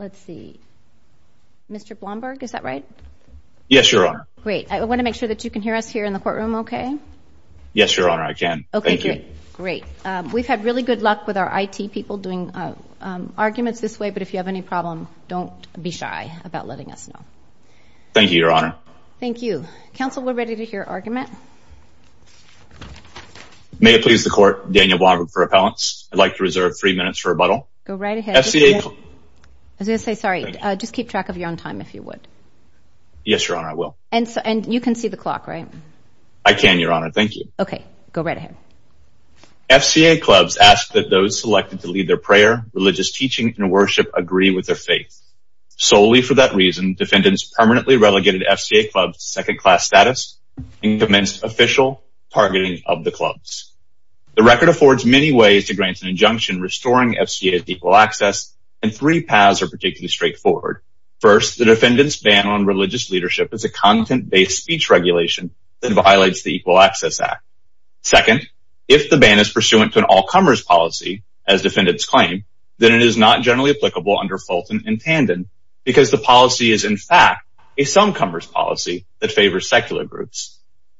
Mr. Blomberg, is that right? Yes, Your Honor. Great. I want to make sure that you can hear us here in the courtroom okay? Yes, Your Honor, I can. Thank you. Okay, great. We've had really good luck with our IT people doing arguments this way, but if you have any problem, don't be shy about letting us know. Thank you, Your Honor. Thank you. Counsel, we're ready to hear argument. May it please the Court, Daniel Blomberg for appellants. I'd like to reserve three minutes for rebuttal. Go right ahead. I was going to say, sorry, just keep track of your own time if you would. Yes, Your Honor, I will. And you can see the clock, right? I can, Your Honor. Thank you. Okay. Go right ahead. FCA clubs ask that those selected to lead their prayer, religious teaching, and worship agree with their faith. Solely for that reason, defendants permanently relegated FCA clubs to second-class status and commenced official targeting of the clubs. The record affords many ways to grant an injunction restoring FCA's equal access, and three paths are particularly straightforward. First, the defendant's ban on religious leadership is a content-based speech regulation that violates the Equal Access Act. Second, if the ban is pursuant to an all-comers policy, as defendants claim, then it is not generally applicable under Fulton and Tandon because the policy is, in fact, a some-comers policy that favors secular groups.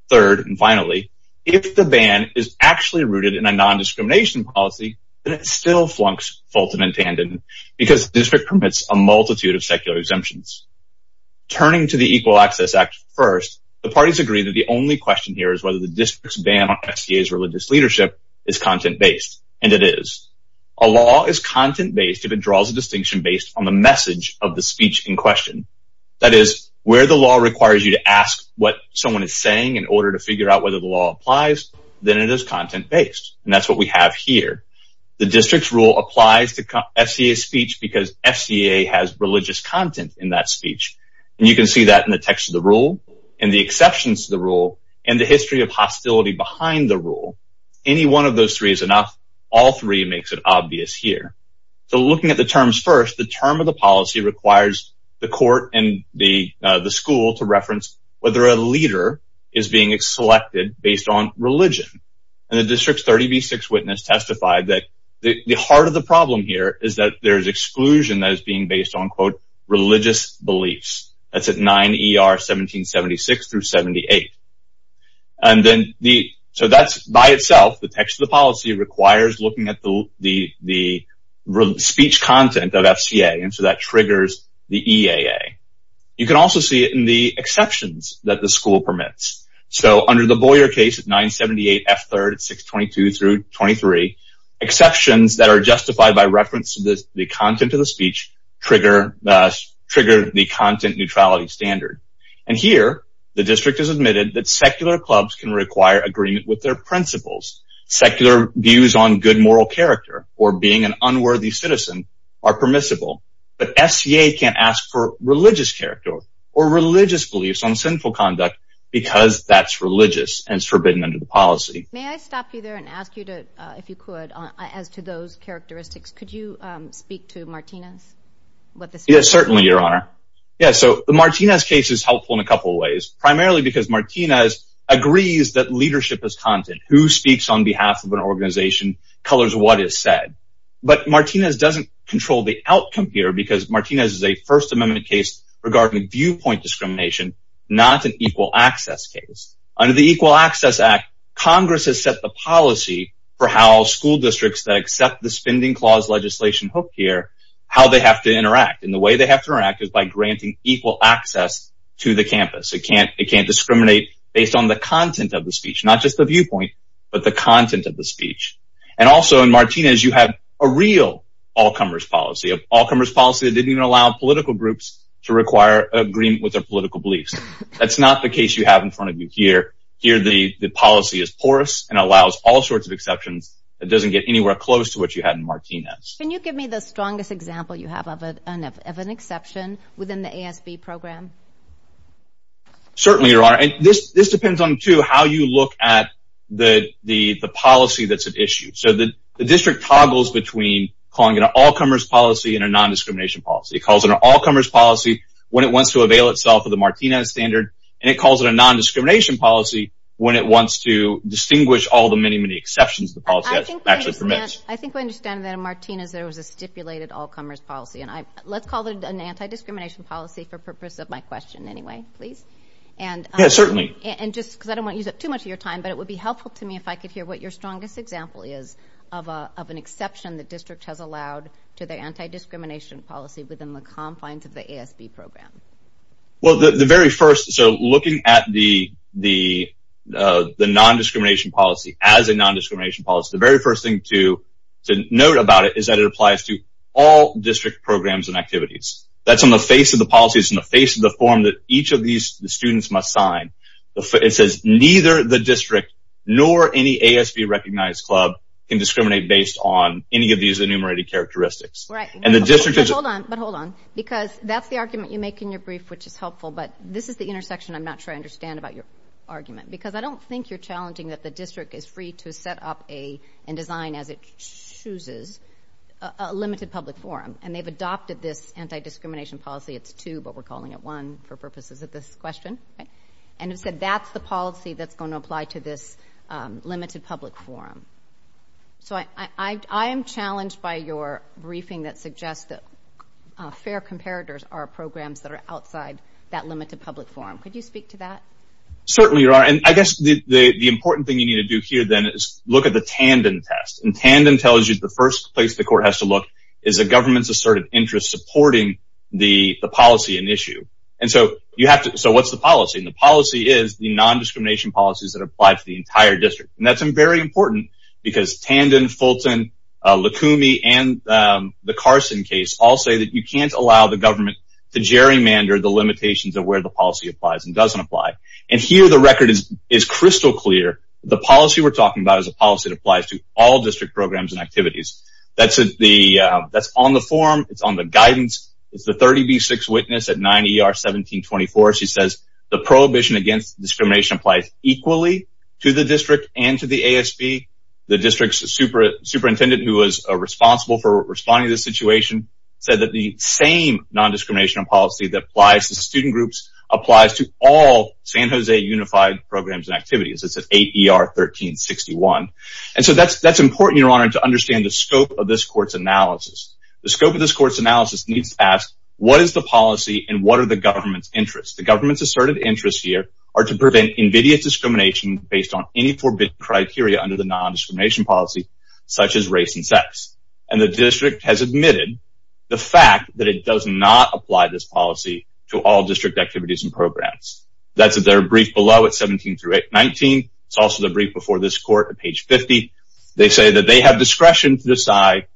Third, and finally, if the ban is actually rooted in a non-discrimination policy, then it still flunks Fulton and Tandon because the district permits a multitude of secular exemptions. Turning to the Equal Access Act first, the parties agree that the only question here is whether the district's ban on FCA's religious leadership is content-based, and it is. A law is content-based if it draws a distinction based on the message of the speech in question. That is, where the law requires you to ask what someone is saying in order to figure out whether the law applies, then it is content-based, and that's what we have here. The district's rule applies to FCA's speech because FCA has religious content in that speech, and you can see that in the text of the rule, in the exceptions to the rule, and the history of hostility behind the rule. Any one of those three is enough. All three makes it obvious here. Looking at the terms first, the term of the policy requires the court and the school to reference whether a leader is being selected based on religion, and the district's 30B6 witness testified that the heart of the problem here is that there is exclusion that is being based on, quote, religious beliefs. That's at 9 ER 1776 through 78. By itself, the text of the policy requires looking at the speech content of FCA, and so that triggers the EAA. You can also see it in the exceptions that the school permits. Under the Boyer case at 978 F3, 622 through 23, exceptions that are justified by reference to the content of the speech trigger the content neutrality standard. And here, the district has admitted that secular clubs can require agreement with their principles. Secular views on good moral character or being an unworthy citizen are permissible, but FCA can't ask for religious character or religious beliefs on sinful conduct because that's religious and it's forbidden under the policy. May I stop you there and ask you to, if you could, as to those characteristics, could you speak to Martinez? Yes, certainly, Your Honor. Yeah, so the Martinez case is helpful in a couple of ways, primarily because Martinez agrees that leadership is content. Who speaks on behalf of an organization colors what is said. But Martinez doesn't control the outcome here because Martinez is a First Amendment case regarding viewpoint discrimination, not an equal access case. Under the Equal Access Act, Congress has set the policy for how school districts that accept the spending clause legislation hook here, how they have to interact. And the way they have to interact is by granting equal access to the campus. It can't discriminate based on the content of the speech, not just the viewpoint, but the content of the speech. And also, in Martinez, you have a real all-comers policy, an all-comers policy that didn't even allow political groups to require agreement with their political beliefs. That's not the case you have in front of you here. Here, the policy is porous and allows all sorts of exceptions. It doesn't get anywhere close to what you had in Martinez. Can you give me the strongest example you have of an exception within the ASB program? Certainly, Your Honor. This depends on, too, how you look at the policy that's at issue. The district toggles between calling it an all-comers policy and a non-discrimination policy. It calls it an all-comers policy when it wants to avail itself of the Martinez standard, and it calls it a non-discrimination policy when it wants to distinguish all the many, many exceptions the policy actually permits. I think we understand that in Martinez there was a stipulated all-comers policy. Let's call it an anti-discrimination policy for purpose of my question anyway, please. Yes, certainly. And just because I don't want to use up too much of your time, but it would be helpful to me if I could hear what your strongest example is of an exception the district has allowed to the anti-discrimination policy within the confines of the ASB program. Well, the very first, so looking at the non-discrimination policy as a non-discrimination policy, the very first thing to note about it is that it applies to all district programs and activities. That's on the face of the policy. It's on the face of the form that each of these students must sign. It says neither the district nor any ASB-recognized club can discriminate based on any of these enumerated characteristics. But hold on, because that's the argument you make in your brief, which is helpful, but this is the intersection I'm not sure I understand about your argument, because I don't think you're challenging that the district is free to set up and design as it chooses a limited public forum. And they've adopted this anti-discrimination policy. It's two, but we're calling it one for purposes of this question. And it said that's the policy that's going to apply to this limited public forum. So I am challenged by your briefing that suggests that fair comparators are programs that are outside that limited public forum. Could you speak to that? Certainly you are. And I guess the important thing you need to do here, then, is look at the Tandon test. And Tandon tells you the first place the court has to look is the government's asserted interest supporting the policy in issue. And so what's the policy? And the policy is the non-discrimination policies that apply to the entire district. And that's very important, because Tandon, Fulton, Licumi, and the Carson case all say that you can't allow the government to gerrymander the limitations of where the policy applies and doesn't apply. And here the record is crystal clear. The policy we're talking about is a policy that applies to all district programs and activities. That's on the form. It's on the guidance. It's the 30B6 witness at 9 ER 1724. She says the prohibition against discrimination applies equally to the district and to the ASB. The district's superintendent, who was responsible for responding to this situation, said that the same non-discrimination policy that applies to student groups applies to all San Jose Unified programs and activities. It's at 8 ER 1361. And so that's important, Your Honor, to understand the scope of this court's analysis. The scope of this court's analysis needs to ask, what is the policy and what are the government's interests? The government's asserted interests here are to prevent invidious discrimination based on any forbidden criteria under the non-discrimination policy, such as race and sex. And the district has admitted the fact that it does not apply this policy to all district activities and programs. That's at their brief below at 17 through 19. It's also the brief before this court at page 50. They say that they have discretion to decide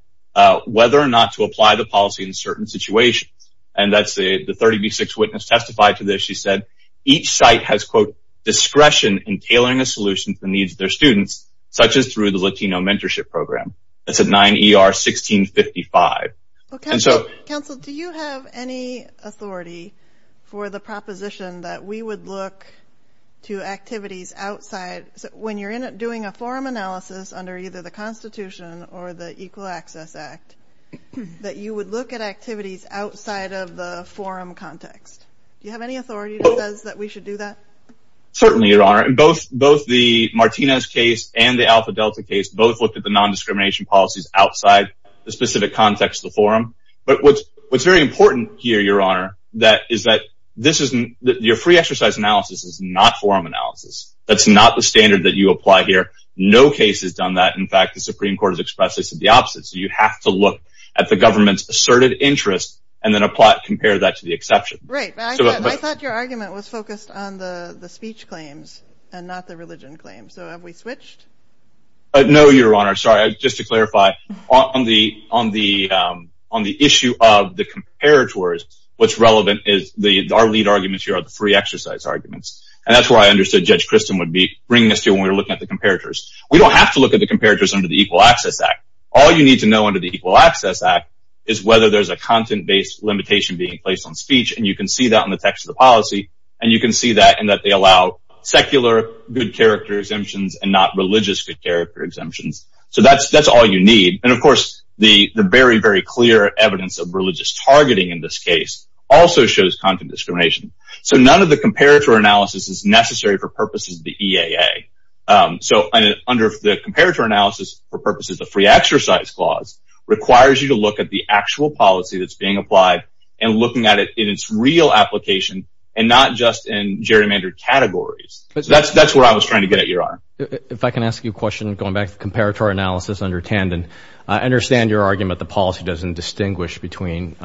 whether or not to apply the policy in certain situations. And that's the 30B6 witness testified to this. She said each site has, quote, discretion in tailoring a solution to the needs of their students, such as through the Latino Mentorship Program. That's at 9 ER 1655. Counsel, do you have any authority for the proposition that we would look to activities outside, when you're doing a forum analysis under either the Constitution or the Equal Access Act, that you would look at activities outside of the forum context? Do you have any authority that says that we should do that? Certainly, Your Honor. Both the Martinez case and the Alpha Delta case both looked at the non-discrimination policies outside the specific context of the forum. But what's very important here, Your Honor, is that your free exercise analysis is not forum analysis. That's not the standard that you apply here. No case has done that. In fact, the Supreme Court has expressed this as the opposite. So you have to look at the government's asserted interest and then compare that to the exception. Right. I thought your argument was focused on the speech claims and not the religion claims. So have we switched? No, Your Honor. Sorry. Just to clarify, on the issue of the comparators, what's relevant is our lead arguments here are the free exercise arguments. And that's where I understood Judge Christin would be bringing us to when we were looking at the comparators. We don't have to look at the comparators under the Equal Access Act. All you need to know under the Equal Access Act is whether there's a content-based limitation being placed on speech, and you can see that in the text of the policy. And you can see that in that they allow secular good character exemptions and not religious good character exemptions. So that's all you need. And, of course, the very, very clear evidence of religious targeting in this case also shows content discrimination. So none of the comparator analysis is necessary for purposes of the EAA. So under the comparator analysis, for purposes of the free exercise clause, requires you to look at the actual policy that's being applied and looking at it in its real application and not just in gerrymandered categories. That's where I was trying to get at, Your Honor. If I can ask you a question going back to comparator analysis under Tandon, I understand your argument the policy doesn't distinguish between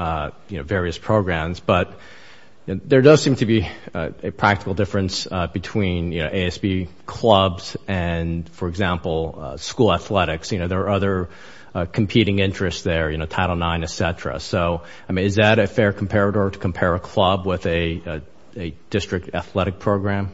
various programs, but there does seem to be a practical difference between ASB clubs and, for example, school athletics. You know, there are other competing interests there, you know, Title IX, et cetera. So, I mean, is that a fair comparator to compare a club with a district athletic program?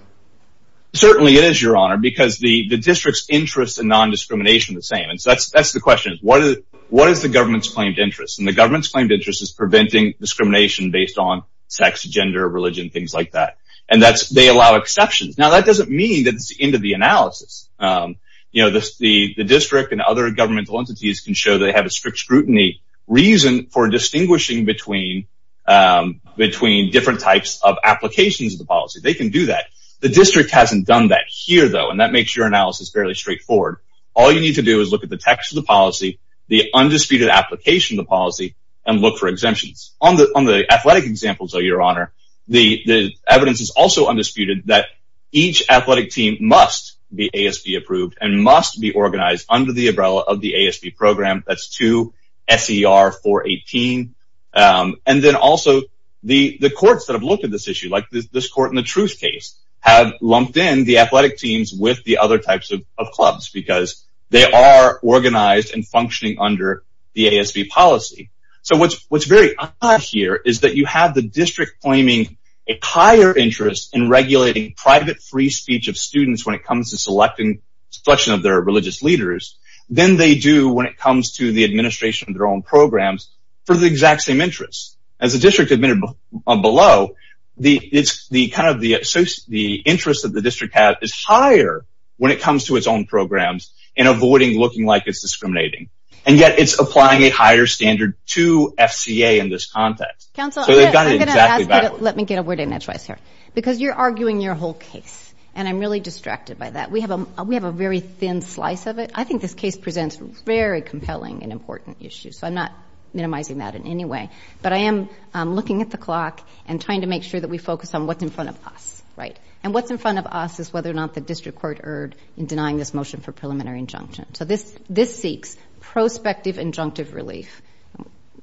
Certainly it is, Your Honor, because the district's interests in non-discrimination are the same. And so that's the question. What is the government's claimed interest? And the government's claimed interest is preventing discrimination based on sex, gender, religion, things like that. And they allow exceptions. Now, that doesn't mean that it's the end of the analysis. You know, the district and other governmental entities can show they have a strict scrutiny reason for distinguishing between different types of applications of the policy. They can do that. The district hasn't done that here, though, and that makes your analysis fairly straightforward. All you need to do is look at the text of the policy, the undisputed application of the policy, and look for exemptions. On the athletic examples, though, Your Honor, the evidence is also undisputed that each athletic team must be ASB-approved and must be organized under the umbrella of the ASB program. That's 2 SER 418. And then also the courts that have looked at this issue, like this court in the Truth case, have lumped in the athletic teams with the other types of clubs because they are organized and functioning under the ASB policy. So what's very odd here is that you have the district claiming a higher interest in regulating private free speech of students when it comes to selection of their religious leaders than they do when it comes to the administration of their own programs for the exact same interests. As the district admitted below, the interest that the district has is higher when it comes to its own programs and avoiding looking like it's discriminating. And yet it's applying a higher standard to FCA in this context. Counsel, let me get a word in edgewise here. Because you're arguing your whole case, and I'm really distracted by that. We have a very thin slice of it. I think this case presents very compelling and important issues, so I'm not minimizing that in any way. But I am looking at the clock and trying to make sure that we focus on what's in front of us, right? And what's in front of us is whether or not the district court erred in denying this motion for preliminary injunction. So this seeks prospective injunctive relief,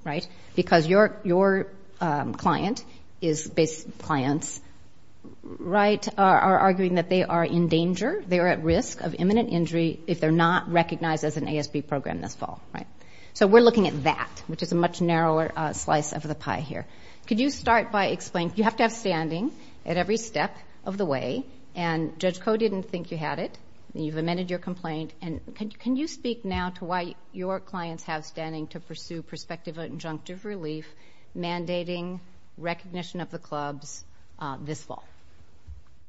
right? Because your client is basing clients, right, are arguing that they are in danger, they are at risk of imminent injury if they're not recognized as an ASB program this fall, right? So we're looking at that, which is a much narrower slice of the pie here. Could you start by explaining? You have to have standing at every step of the way, and Judge Koh didn't think you had it. You've amended your complaint, and can you speak now to why your clients have standing to pursue prospective injunctive relief mandating recognition of the clubs this fall?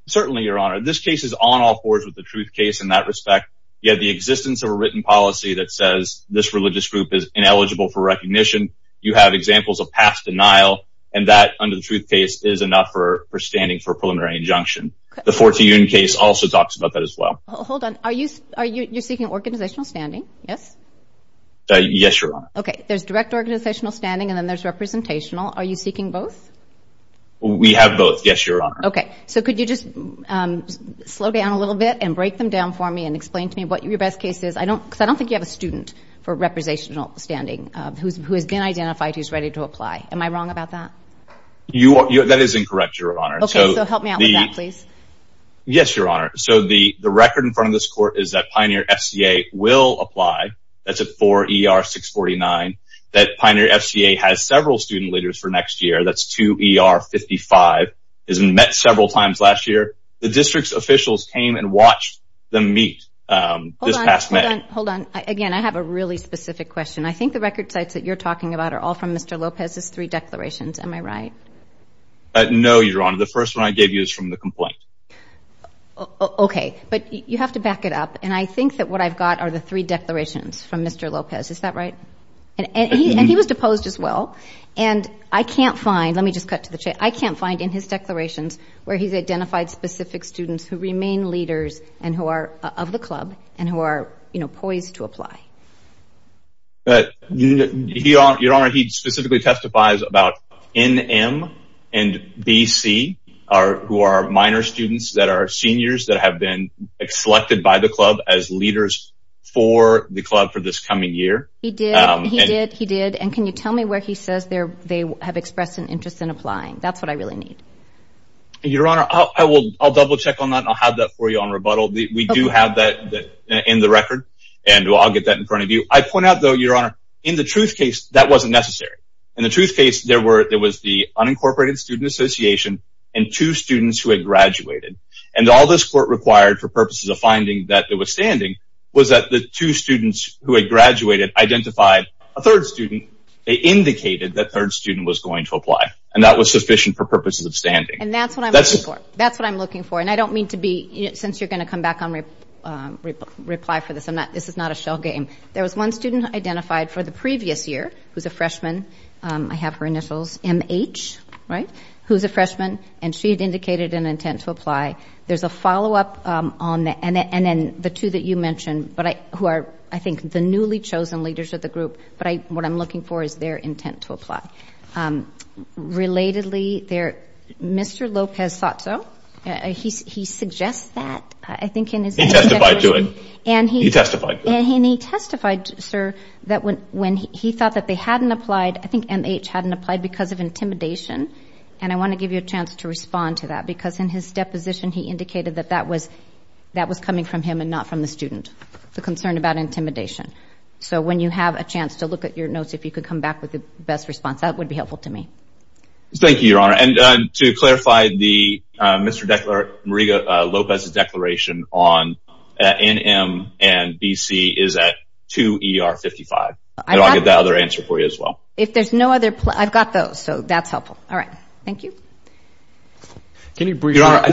Certainly, Your Honor. This case is on all fours with the truth case in that respect. You have the existence of a written policy that says this religious group is ineligible for recognition. You have examples of past denial, and that, under the truth case, is enough for standing for preliminary injunction. The 14-union case also talks about that as well. Hold on. You're seeking organizational standing, yes? Yes, Your Honor. Okay. There's direct organizational standing, and then there's representational. Are you seeking both? We have both, yes, Your Honor. Okay. So could you just slow down a little bit and break them down for me and explain to me what your best case is? Because I don't think you have a student for representational standing who has been identified, who's ready to apply. Am I wrong about that? That is incorrect, Your Honor. Okay. So help me out with that, please. Yes, Your Honor. So the record in front of this Court is that Pioneer FCA will apply. That's at 4 ER 649. That Pioneer FCA has several student leaders for next year. That's 2 ER 55. It was met several times last year. The district's officials came and watched them meet this past May. Hold on. Again, I have a really specific question. I think the record sites that you're talking about are all from Mr. Lopez's three declarations. Am I right? No, Your Honor. The first one I gave you is from the complaint. Okay. But you have to back it up. And I think that what I've got are the three declarations from Mr. Lopez. Is that right? And he was deposed as well. And I can't find, let me just cut to the chase, I can't find in his declarations where he's identified specific students who remain leaders and who are of the club and who are, you know, poised to apply. Your Honor, he specifically testifies about NM and BC who are minor students that are seniors that have been selected by the club as leaders for the club for this coming year. He did. He did. He did. And can you tell me where he says they have expressed an interest in applying? That's what I really need. Your Honor, I'll double check on that and I'll have that for you on rebuttal. We do have that in the record. And I'll get that in front of you. I point out, though, Your Honor, in the truth case, that wasn't necessary. In the truth case, there was the unincorporated student association and two students who had graduated. And all this court required for purposes of finding that it was standing was that the two students who had graduated identified a third student. They indicated that third student was going to apply. And that was sufficient for purposes of standing. And that's what I'm looking for. That's what I'm looking for. And I don't mean to be, since you're going to come back and reply for this, this is not a shell game. There was one student identified for the previous year who's a freshman. I have her initials, M.H., right, who's a freshman. And she had indicated an intent to apply. There's a follow-up on that. And then the two that you mentioned who are, I think, the newly chosen leaders of the group. But what I'm looking for is their intent to apply. Relatedly, Mr. Lopez thought so. He suggests that, I think, in his deposition. He testified to it. He testified to it. And he testified, sir, that when he thought that they hadn't applied, I think M.H. hadn't applied because of intimidation. And I want to give you a chance to respond to that, because in his deposition he indicated that that was coming from him and not from the student, the concern about intimidation. So when you have a chance to look at your notes, if you could come back with the best response, that would be helpful to me. Thank you, Your Honor. And to clarify, Mr. Lopez's declaration on NM and BC is at 2 ER 55. I'll get that other answer for you as well. If there's no other, I've got those, so that's helpful. All right. Thank you. Can you briefly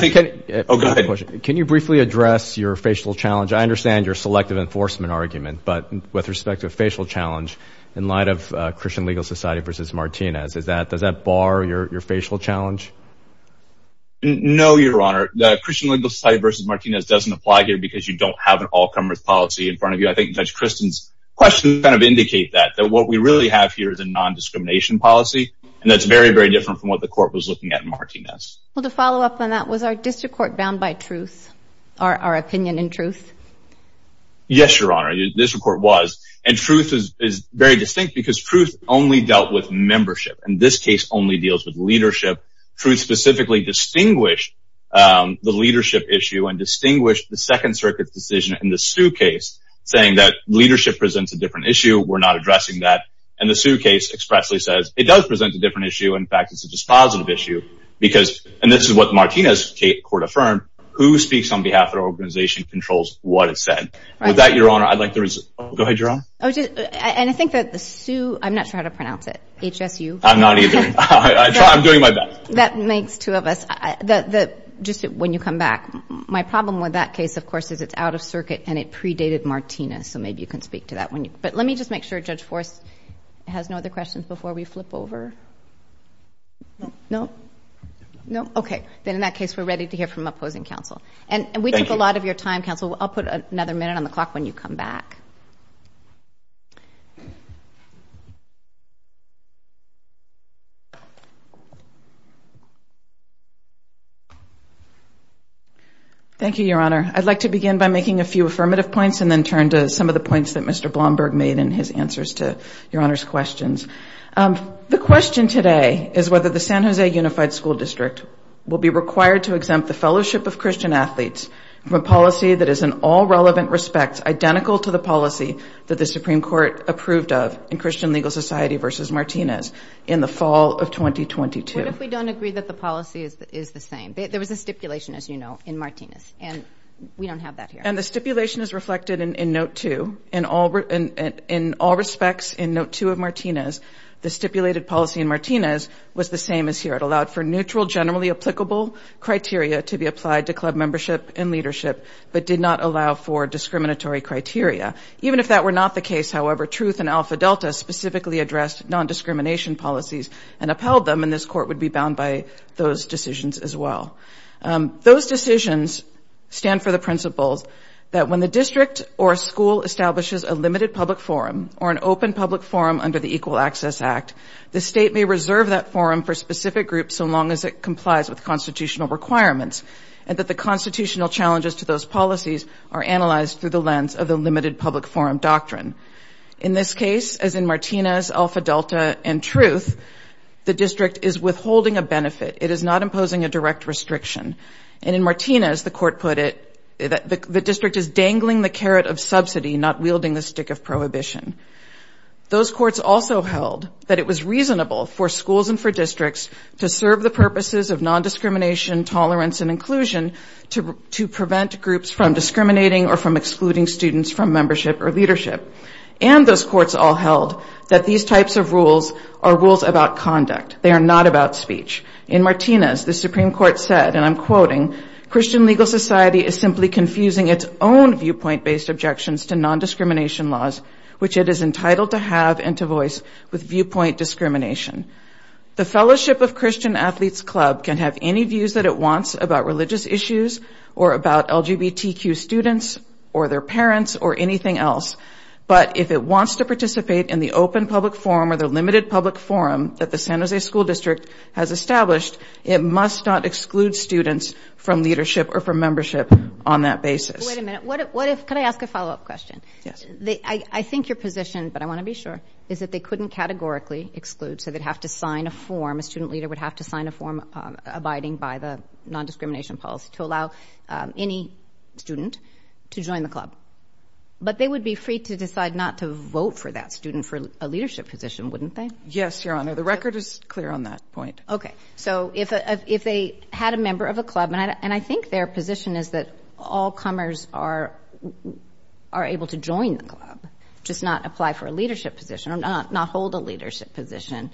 address your facial challenge? I understand your selective enforcement argument, but with respect to a facial challenge in light of Christian Legal Society versus Martinez, does that bar your facial challenge? No, Your Honor. The Christian Legal Society versus Martinez doesn't apply here because you don't have an all-comers policy in front of you. I think Judge Christen's questions kind of indicate that, that what we really have here is a nondiscrimination policy, and that's very, very different from what the court was looking at in Martinez. Well, to follow up on that, was our district court bound by truth, our opinion in truth? Yes, Your Honor, the district court was. And truth is very distinct because truth only dealt with membership, and this case only deals with leadership. Truth specifically distinguished the leadership issue and distinguished the Second Circuit's decision in the Sioux case saying that leadership presents a different issue. We're not addressing that. And the Sioux case expressly says it does present a different issue. In fact, it's a dispositive issue because, and this is what Martinez court affirmed, who speaks on behalf of their organization controls what is said. With that, Your Honor, I'd like the results. Go ahead, Your Honor. And I think that the Sioux, I'm not sure how to pronounce it, H-S-U? I'm not either. I'm doing my best. That makes two of us. Just when you come back, my problem with that case, of course, is it's out of circuit and it predated Martinez, so maybe you can speak to that. But let me just make sure Judge Forrest has no other questions before we flip over. No. No? No? Okay. Then in that case, we're ready to hear from opposing counsel. And we took a lot of your time, counsel. I'll put another minute on the clock when you come back. Thank you, Your Honor. I'd like to begin by making a few affirmative points and then turn to some of the points that Mr. Blomberg made in his answers to Your Honor's questions. The question today is whether the San Jose Unified School District will be required to What if we don't agree that the policy is the same? There was a stipulation, as you know, in Martinez. And we don't have that here. And the stipulation is reflected in Note 2. In all respects, in Note 2 of Martinez, the stipulated policy in Martinez was the same as here. It allowed for neutral, generally applicable criteria to be applied to club membership and leadership, but did not allow for discriminatory criteria. Even if that were not the case, however, Truth and Alpha Delta specifically addressed non-discrimination policies and upheld them. And this Court would be bound by those decisions as well. Those decisions stand for the principles that when the district or school establishes a limited public forum or an open public forum under the Equal Access Act, the state may reserve that forum for specific groups so long as it complies with constitutional requirements and that the constitutional challenges to those policies are analyzed through the lens of the limited public forum doctrine. In this case, as in Martinez, Alpha Delta, and Truth, the district is withholding a benefit. It is not imposing a direct restriction. And in Martinez, the court put it, the district is dangling the carrot of subsidy, not wielding the stick of prohibition. Those courts also held that it was reasonable for schools and for districts to serve the purposes of non-discrimination, tolerance, and inclusion to prevent groups from discriminating or from excluding students from membership or leadership. And those courts all held that these types of rules are rules about conduct. They are not about speech. In Martinez, the Supreme Court said, and I'm quoting, Christian legal society is simply confusing its own viewpoint-based objections to non-discrimination laws, which it is entitled to have and to voice with viewpoint discrimination. The Fellowship of Christian Athletes Club can have any views that it wants about religious issues or about LGBTQ students or their parents or anything else. But if it wants to participate in the open public forum or the limited public forum that the San Jose School District has established, it must not exclude students from leadership or from membership on that basis. Wait a minute. Could I ask a follow-up question? Yes. I think your position, but I want to be sure, is that they couldn't categorically exclude, so they'd have to sign a form. A student leader would have to sign a form abiding by the non-discrimination policy to allow any student to join the club. But they would be free to decide not to vote for that student for a leadership position, wouldn't they? Yes, Your Honor. The record is clear on that point. Okay. So if they had a member of a club, and I think their position is that all comers are able to join the club, just not apply for a leadership position or not hold a leadership position,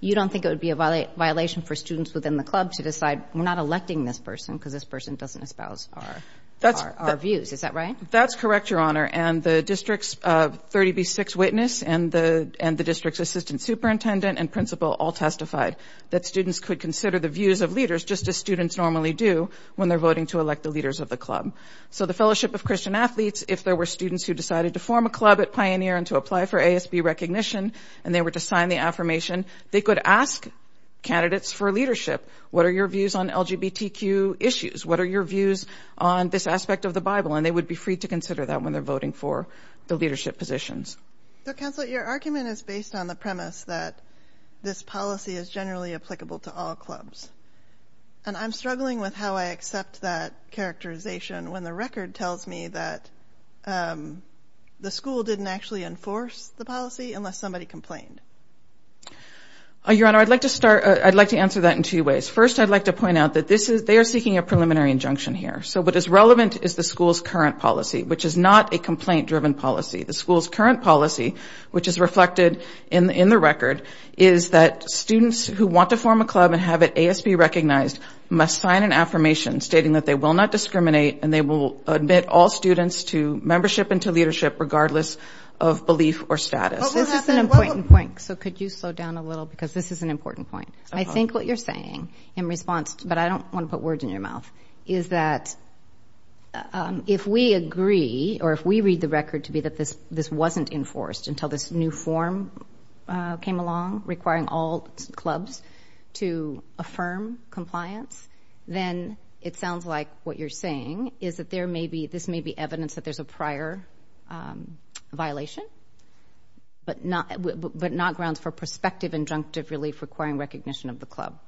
you don't think it would be a violation for students within the club to decide, we're not electing this person because this person doesn't espouse our views. Is that right? That's correct, Your Honor. And the district's 30B6 witness and the district's assistant superintendent and principal all testified that students could consider the views of leaders just as students normally do when they're voting to elect the leaders of the club. So the Fellowship of Christian Athletes, if there were students who decided to form a club at Pioneer and to apply for ASB recognition and they were to sign the affirmation, they could ask candidates for leadership. What are your views on LGBTQ issues? What are your views on this aspect of the Bible? And they would be free to consider that when they're voting for the leadership positions. Counsel, your argument is based on the premise that this policy is generally applicable to all clubs. And I'm struggling with how I accept that characterization when the record tells me that the school didn't actually enforce the policy unless somebody complained. Your Honor, I'd like to answer that in two ways. First, I'd like to point out that they are seeking a preliminary injunction here. So what is relevant is the school's current policy, which is not a complaint-driven policy. The school's current policy, which is reflected in the record, is that students who want to form a club and have it ASB recognized must sign an affirmation stating that they will not discriminate and they will admit all students to membership and to leadership regardless of belief or status. This is an important point. So could you slow down a little because this is an important point. I think what you're saying in response, but I don't want to put words in your mouth, is that if we agree or if we read the record to be that this wasn't enforced until this new form came along requiring all clubs to affirm compliance, then it sounds like what you're saying is that this may be evidence that there's a prior violation but not grounds for prospective injunctive relief requiring recognition of the club.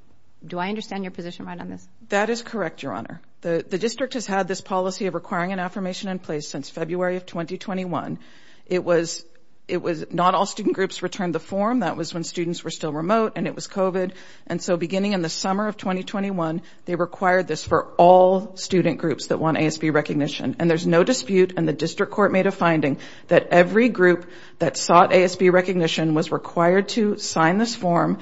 Do I understand your position right on this? That is correct, Your Honor. The district has had this policy of requiring an affirmation in place since February of 2021. It was not all student groups returned the form. That was when students were still remote and it was COVID. And so beginning in the summer of 2021, they required this for all student groups that want ASB recognition. And there's no dispute, and the district court made a finding, that every group that sought ASB recognition was required to sign this form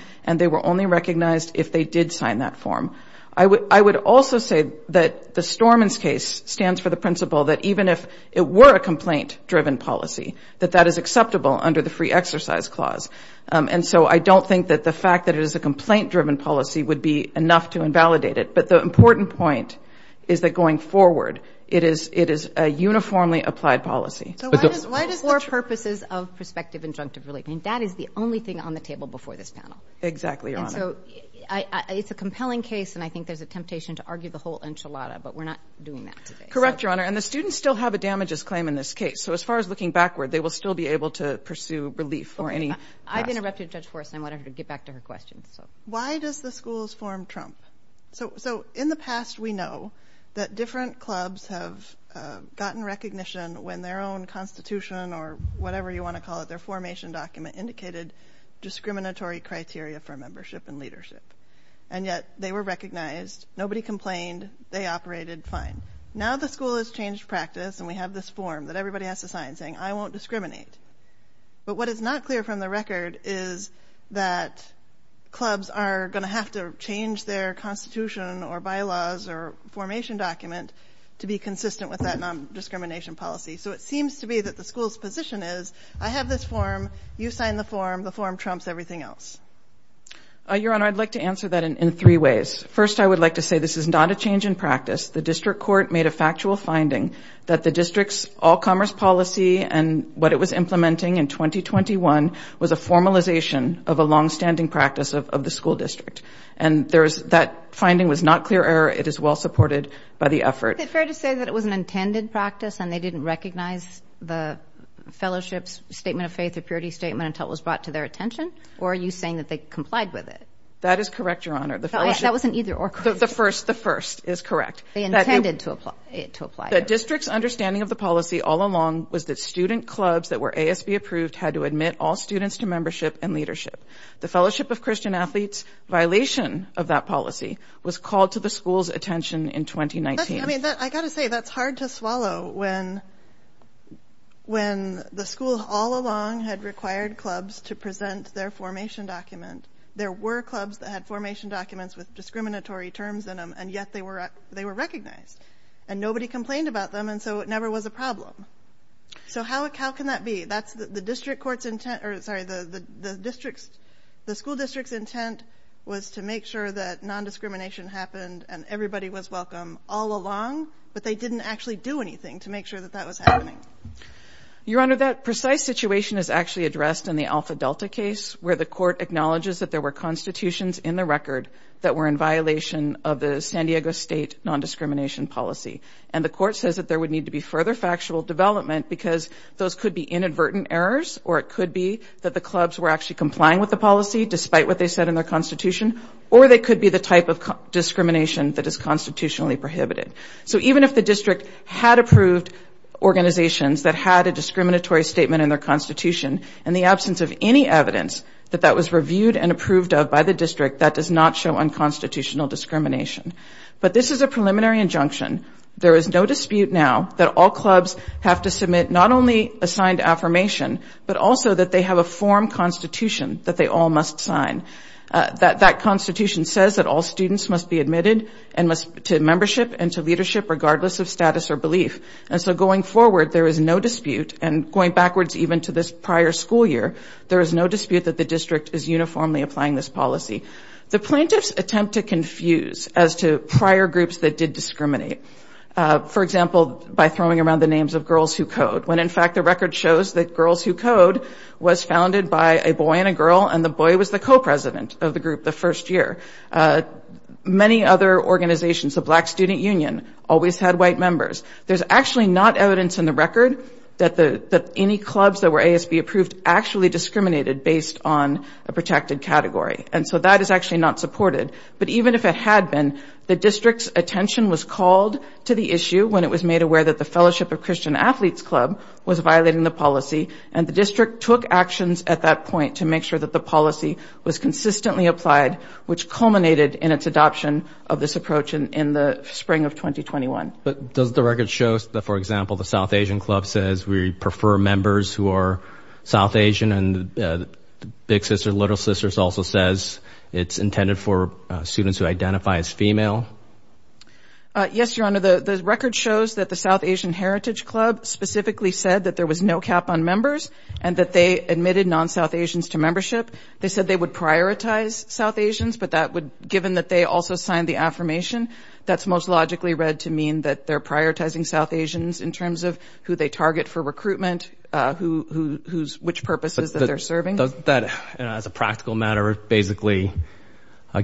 I would also say that the Storman's case stands for the principle that even if it were a complaint-driven policy, that that is acceptable under the free exercise clause. And so I don't think that the fact that it is a complaint-driven policy would be enough to invalidate it. But the important point is that going forward, it is a uniformly applied policy. So why does the four purposes of prospective injunctive relief, I mean, that is the only thing on the table before this panel. Exactly, Your Honor. And so it's a compelling case, and I think there's a temptation to argue the whole enchilada, but we're not doing that today. Correct, Your Honor. And the students still have a damages claim in this case. So as far as looking backward, they will still be able to pursue relief for any. I've interrupted Judge Forrest and I want her to get back to her questions. Why does the schools form Trump? So in the past, we know that different clubs have gotten recognition when their own constitution or whatever you want to call it, their formation document, indicated discriminatory criteria for membership and leadership. And yet they were recognized. Nobody complained. They operated fine. Now the school has changed practice and we have this form that everybody has to sign saying, I won't discriminate. But what is not clear from the record is that clubs are going to have to change their constitution or bylaws or formation document to be consistent with that non-discrimination policy. So it seems to be that the school's position is, I have this form, you sign the form, the form trumps everything else. Your Honor, I'd like to answer that in three ways. First, I would like to say this is not a change in practice. The district court made a factual finding that the district's all commerce policy and what it was implementing in 2021 was a formalization of a longstanding practice of the school district. And that finding was not clear error. It is well supported by the effort. Is it fair to say that it was an intended practice and they didn't recognize the fellowship's statement of faith or purity statement until it was brought to their attention? Or are you saying that they complied with it? That is correct, Your Honor. That wasn't either or. The first, the first is correct. They intended to apply it. The district's understanding of the policy all along was that student clubs that were ASB approved had to admit all students to membership and leadership. The Fellowship of Christian Athletes violation of that policy was called to the school's attention in 2019. I mean, I got to say that's hard to swallow when when the school all along had required clubs to present their formation document. There were clubs that had formation documents with discriminatory terms in them. And yet they were they were recognized and nobody complained about them. And so it never was a problem. So how how can that be? That's the district court's intent. The school district's intent was to make sure that nondiscrimination happened and everybody was welcome all along. But they didn't actually do anything to make sure that that was happening. Your Honor, that precise situation is actually addressed in the Alpha Delta case where the court acknowledges that there were constitutions in the record that were in violation of the San Diego State nondiscrimination policy. And the court says that there would need to be further factual development because those could be inadvertent errors or it could be that the clubs were actually complying with the policy despite what they said in their constitution or they could be the type of discrimination that is constitutionally prohibited. So even if the district had approved organizations that had a discriminatory statement in their constitution and the absence of any evidence that that was reviewed and approved of by the district, that does not show unconstitutional discrimination. But this is a preliminary injunction. There is no dispute now that all clubs have to submit not only a signed affirmation, but also that they have a form constitution that they all must sign. That constitution says that all students must be admitted to membership and to leadership regardless of status or belief. And so going forward, there is no dispute, and going backwards even to this prior school year, there is no dispute that the district is uniformly applying this policy. The plaintiffs attempt to confuse as to prior groups that did discriminate. For example, by throwing around the names of Girls Who Code, when in fact the record shows that Girls Who Code was founded by a boy and a girl and the boy was the co-president of the group the first year. Many other organizations, the Black Student Union, always had white members. There is actually not evidence in the record that any clubs that were ASB approved actually discriminated based on a protected category. And so that is actually not supported. But even if it had been, the district's attention was called to the issue when it was made aware that the Fellowship of Christian Athletes Club was violating the policy, and the district took actions at that point to make sure that the policy was consistently applied, which culminated in its adoption of this approach in the spring of 2021. But does the record show that, for example, the South Asian Club says we prefer members who are South Asian, and the Big Sister, Little Sisters also says it's intended for students who identify as female? Yes, Your Honor. The record shows that the South Asian Heritage Club specifically said that there was no cap on members and that they admitted non-South Asians to membership. They said they would prioritize South Asians, but that would, given that they also signed the affirmation, that's most logically read to mean that they're prioritizing South Asians in terms of who they target for recruitment, which purposes that they're serving. Doesn't that, as a practical matter, basically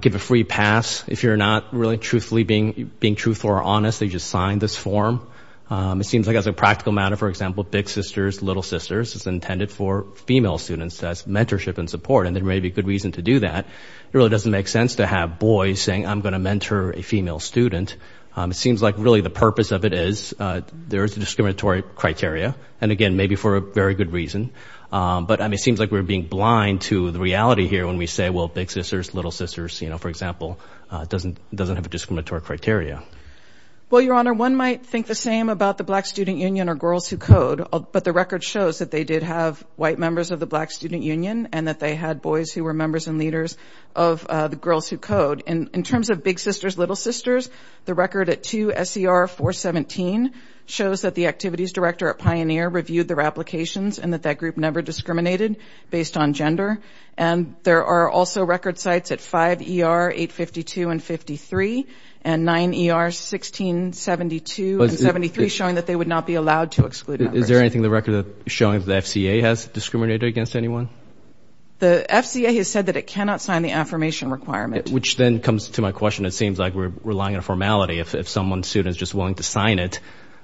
give a free pass if you're not really truthfully being truthful or honest, that you just signed this form? It seems like as a practical matter, for example, Big Sisters, Little Sisters, it's intended for female students as mentorship and support, and there may be a good reason to do that. It really doesn't make sense to have boys saying, I'm going to mentor a female student. It seems like really the purpose of it is there is a discriminatory criteria, and again, maybe for a very good reason. But, I mean, it seems like we're being blind to the reality here when we say, well, Big Sisters, Little Sisters, you know, for example, doesn't have a discriminatory criteria. Well, Your Honor, one might think the same about the Black Student Union or Girls Who Code, but the record shows that they did have white members of the Black Student Union and that they had boys who were members and leaders of the Girls Who Code. In terms of Big Sisters, Little Sisters, the record at 2 S.E.R. 417 shows that the activities director at Pioneer reviewed their applications and that that group never discriminated based on gender. And there are also record sites at 5 E.R. 852 and 53 and 9 E.R. 1672 and 73, showing that they would not be allowed to exclude members. Is there anything in the record showing that the F.C.A. has discriminated against anyone? The F.C.A. has said that it cannot sign the affirmation requirement. Which then comes to my question. It seems like we're relying on formality. If someone's student is just willing to sign it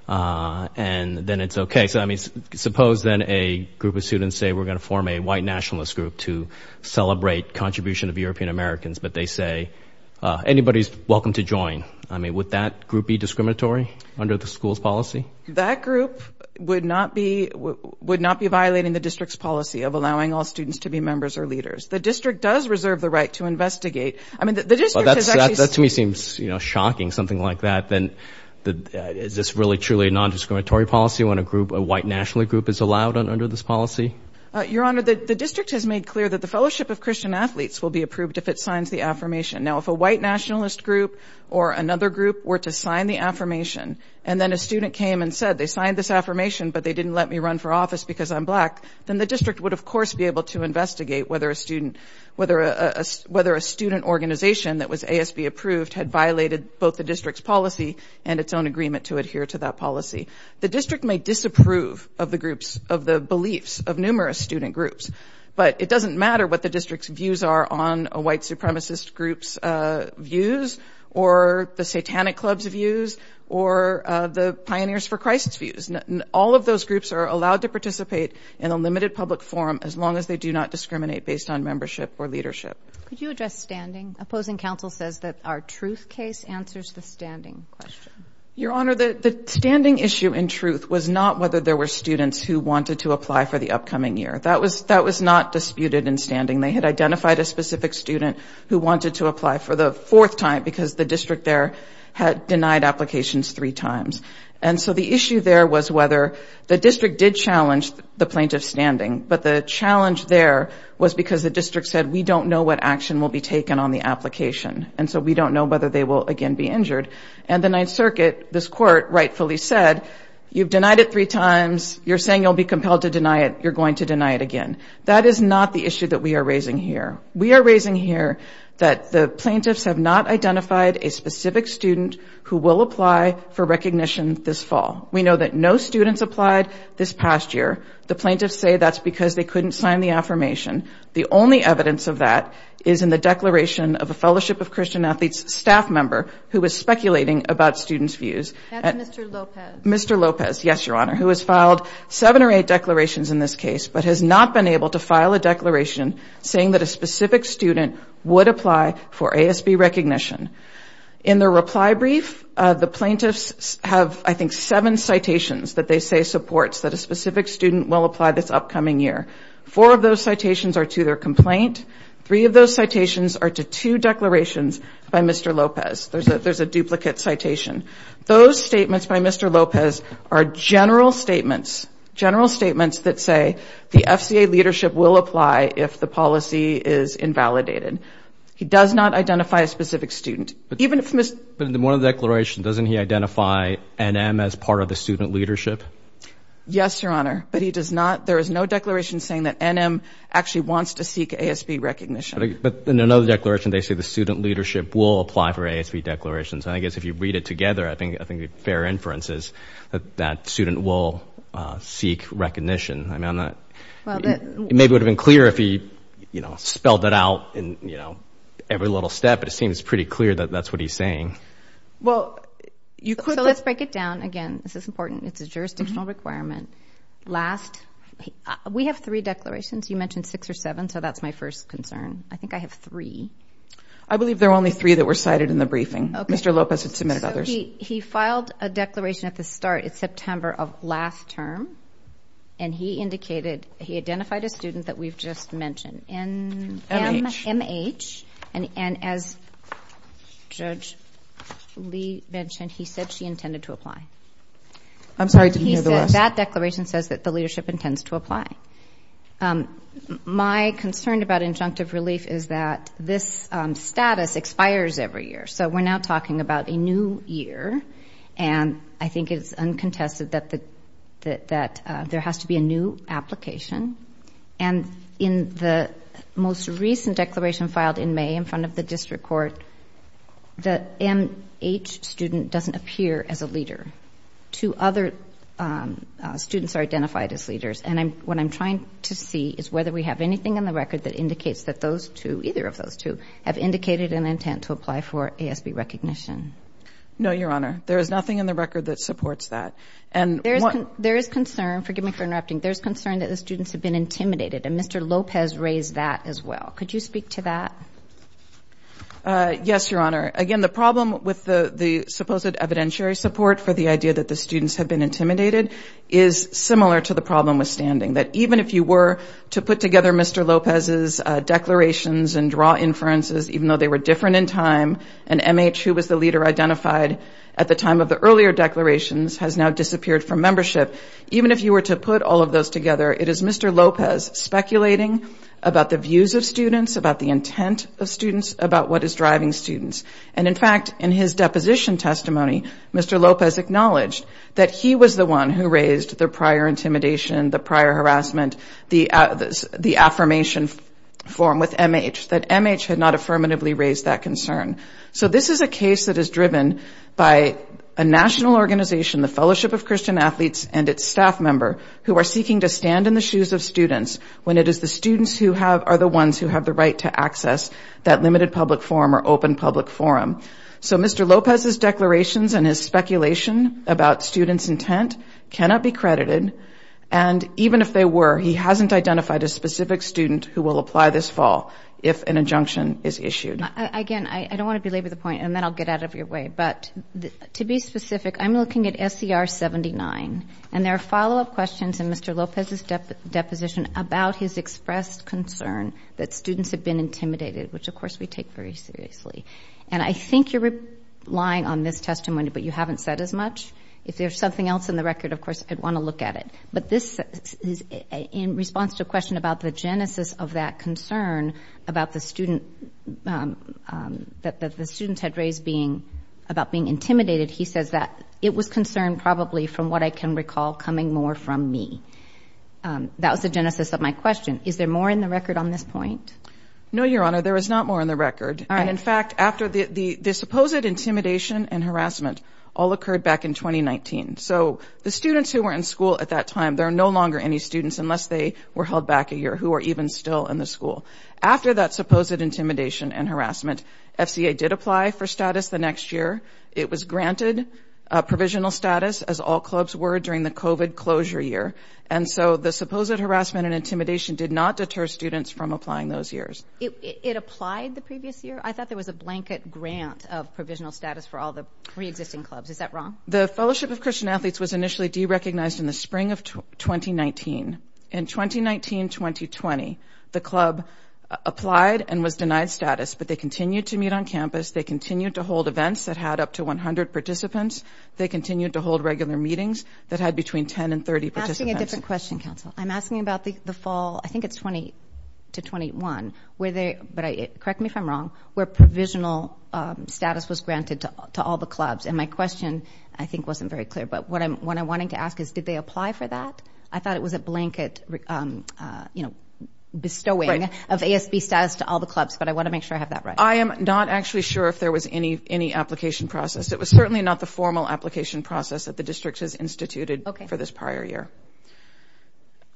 and then it's OK. So, I mean, suppose then a group of students say we're going to form a white nationalist group to celebrate contribution of European-Americans, but they say anybody's welcome to join. I mean, would that group be discriminatory under the school's policy? That group would not be violating the district's policy of allowing all students to be members or leaders. The district does reserve the right to investigate. I mean, the district has actually- Well, that to me seems, you know, shocking, something like that. Then is this really truly a nondiscriminatory policy when a group, a white nationalist group is allowed under this policy? Your Honor, the district has made clear that the fellowship of Christian athletes will be approved if it signs the affirmation. Now, if a white nationalist group or another group were to sign the affirmation and then a student came and said they signed this affirmation, but they didn't let me run for office because I'm black, then the district would, of course, be able to investigate whether a student- whether a student organization that was ASB approved had violated both the district's policy and its own agreement to adhere to that policy. The district may disapprove of the groups, of the beliefs of numerous student groups, but it doesn't matter what the district's views are on a white supremacist group's views or the Satanic Club's views or the Pioneers for Christ's views. All of those groups are allowed to participate in a limited public forum as long as they do not discriminate based on membership or leadership. Could you address standing? Opposing counsel says that our truth case answers the standing question. Your Honor, the standing issue in truth was not whether there were students who wanted to apply for the upcoming year. That was not disputed in standing. They had identified a specific student who wanted to apply for the fourth time because the district there had denied applications three times. And so the issue there was whether the district did challenge the plaintiff's standing, but the challenge there was because the district said, we don't know what action will be taken on the application, and so we don't know whether they will again be injured. And the Ninth Circuit, this Court, rightfully said, you've denied it three times, you're saying you'll be compelled to deny it, you're going to deny it again. That is not the issue that we are raising here. We are raising here that the plaintiffs have not identified a specific student who will apply for recognition this fall. We know that no students applied this past year. The plaintiffs say that's because they couldn't sign the affirmation. The only evidence of that is in the declaration of a Fellowship of Christian Athletes staff member who was speculating about students' views. That's Mr. Lopez. Mr. Lopez, yes, Your Honor, who has filed seven or eight declarations in this case, but has not been able to file a declaration saying that a specific student would apply for ASB recognition. In the reply brief, the plaintiffs have, I think, seven citations that they say supports that a specific student will apply this upcoming year. Four of those citations are to their complaint. Three of those citations are to two declarations by Mr. Lopez. There's a duplicate citation. Those statements by Mr. Lopez are general statements, general statements that say the FCA leadership will apply if the policy is invalidated. He does not identify a specific student. But in one of the declarations, doesn't he identify NM as part of the student leadership? Yes, Your Honor, but he does not. There is no declaration saying that NM actually wants to seek ASB recognition. But in another declaration, they say the student leadership will apply for ASB declarations. And I guess if you read it together, I think the fair inference is that that student will seek recognition. It maybe would have been clearer if he, you know, spelled it out in, you know, every little step, but it seems pretty clear that that's what he's saying. Well, you could. So let's break it down again. This is important. It's a jurisdictional requirement. Last. We have three declarations. You mentioned six or seven, so that's my first concern. I think I have three. I believe there are only three that were cited in the briefing. Mr. Lopez had submitted others. He filed a declaration at the start, it's September of last term, and he indicated he identified a student that we've just mentioned, NMH. And as Judge Lee mentioned, he said she intended to apply. I'm sorry, I didn't hear the rest. He said that declaration says that the leadership intends to apply. My concern about injunctive relief is that this status expires every year, so we're now talking about a new year, and I think it's uncontested that there has to be a new application. And in the most recent declaration filed in May in front of the district court, the NMH student doesn't appear as a leader. Two other students are identified as leaders, and what I'm trying to see is whether we have anything in the record that indicates that those two, either of those two, have indicated an intent to apply for ASB recognition. No, Your Honor. There is nothing in the record that supports that. There is concern, forgive me for interrupting, there is concern that the students have been intimidated, and Mr. Lopez raised that as well. Could you speak to that? Yes, Your Honor. Again, the problem with the supposed evidentiary support for the idea that the students have been intimidated is similar to the problem with standing, that even if you were to put together Mr. Lopez's declarations and draw inferences, even though they were different in time, and MH, who was the leader identified at the time of the earlier declarations, has now disappeared from membership. Even if you were to put all of those together, it is Mr. Lopez speculating about the views of students, about the intent of students, about what is driving students. And, in fact, in his deposition testimony, Mr. Lopez acknowledged that he was the one who raised the prior intimidation, the prior harassment, the affirmation form with MH, that MH had not affirmatively raised that concern. So this is a case that is driven by a national organization, the Fellowship of Christian Athletes and its staff member, who are seeking to stand in the shoes of students when it is the students who are the ones who have the right to access that limited public forum or open public forum. So Mr. Lopez's declarations and his speculation about students' intent cannot be credited, and even if they were, he hasn't identified a specific student who will apply this fall if an injunction is issued. Again, I don't want to belabor the point, and then I'll get out of your way. But to be specific, I'm looking at SCR 79, and there are follow-up questions in Mr. Lopez's deposition about his expressed concern that students have been intimidated, which, of course, we take very seriously. And I think you're relying on this testimony, but you haven't said as much. If there's something else in the record, of course, I'd want to look at it. But this is in response to a question about the genesis of that concern about the student that the students had raised about being intimidated. He says that it was concern probably from what I can recall coming more from me. That was the genesis of my question. Is there more in the record on this point? No, Your Honor, there is not more in the record. And, in fact, after the supposed intimidation and harassment all occurred back in 2019. So the students who were in school at that time, there are no longer any students unless they were held back a year who are even still in the school. After that supposed intimidation and harassment, FCA did apply for status the next year. It was granted provisional status, as all clubs were during the COVID closure year. And so the supposed harassment and intimidation did not deter students from applying those years. It applied the previous year? I thought there was a blanket grant of provisional status for all the preexisting clubs. Is that wrong? The Fellowship of Christian Athletes was initially derecognized in the spring of 2019. In 2019-2020, the club applied and was denied status, but they continued to meet on campus. They continued to hold events that had up to 100 participants. They continued to hold regular meetings that had between 10 and 30 participants. I'm asking a different question, counsel. I'm asking about the fall, I think it's 20 to 21. Correct me if I'm wrong, where provisional status was granted to all the clubs. And my question, I think, wasn't very clear, but what I'm wanting to ask is did they apply for that? I thought it was a blanket bestowing of ASB status to all the clubs, but I want to make sure I have that right. I am not actually sure if there was any application process. It was certainly not the formal application process that the district has instituted for this prior year.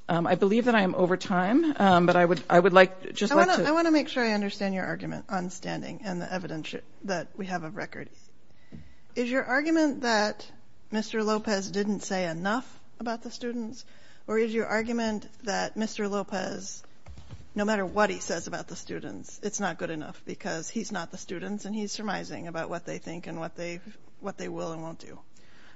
I believe that I am over time, but I would like just to – I want to make sure I understand your argument on standing and the evidence that we have of record. Is your argument that Mr. Lopez didn't say enough about the students, or is your argument that Mr. Lopez, no matter what he says about the students, it's not good enough because he's not the students and he's surmising about what they think and what they will and won't do?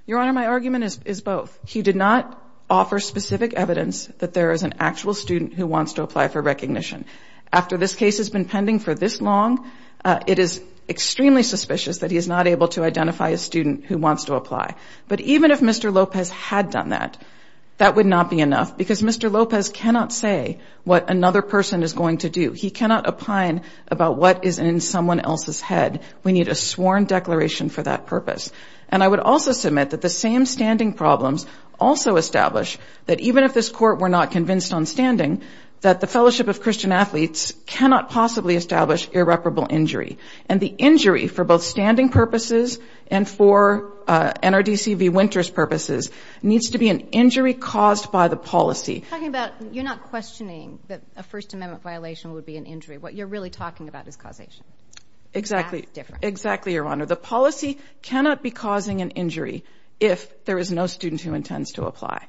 Your Honor, my argument is both. He did not offer specific evidence that there is an actual student who wants to apply for recognition. After this case has been pending for this long, it is extremely suspicious that he is not able to identify a student who wants to apply. But even if Mr. Lopez had done that, that would not be enough because Mr. Lopez cannot say what another person is going to do. He cannot opine about what is in someone else's head. We need a sworn declaration for that purpose. And I would also submit that the same standing problems also establish that even if this Court were not convinced on standing, that the Fellowship of Christian Athletes cannot possibly establish irreparable injury. And the injury for both standing purposes and for NRDC v. Winters purposes needs to be an injury caused by the policy. You're not questioning that a First Amendment violation would be an injury. What you're really talking about is causation. Exactly. Exactly, Your Honor. The policy cannot be causing an injury if there is no student who intends to apply.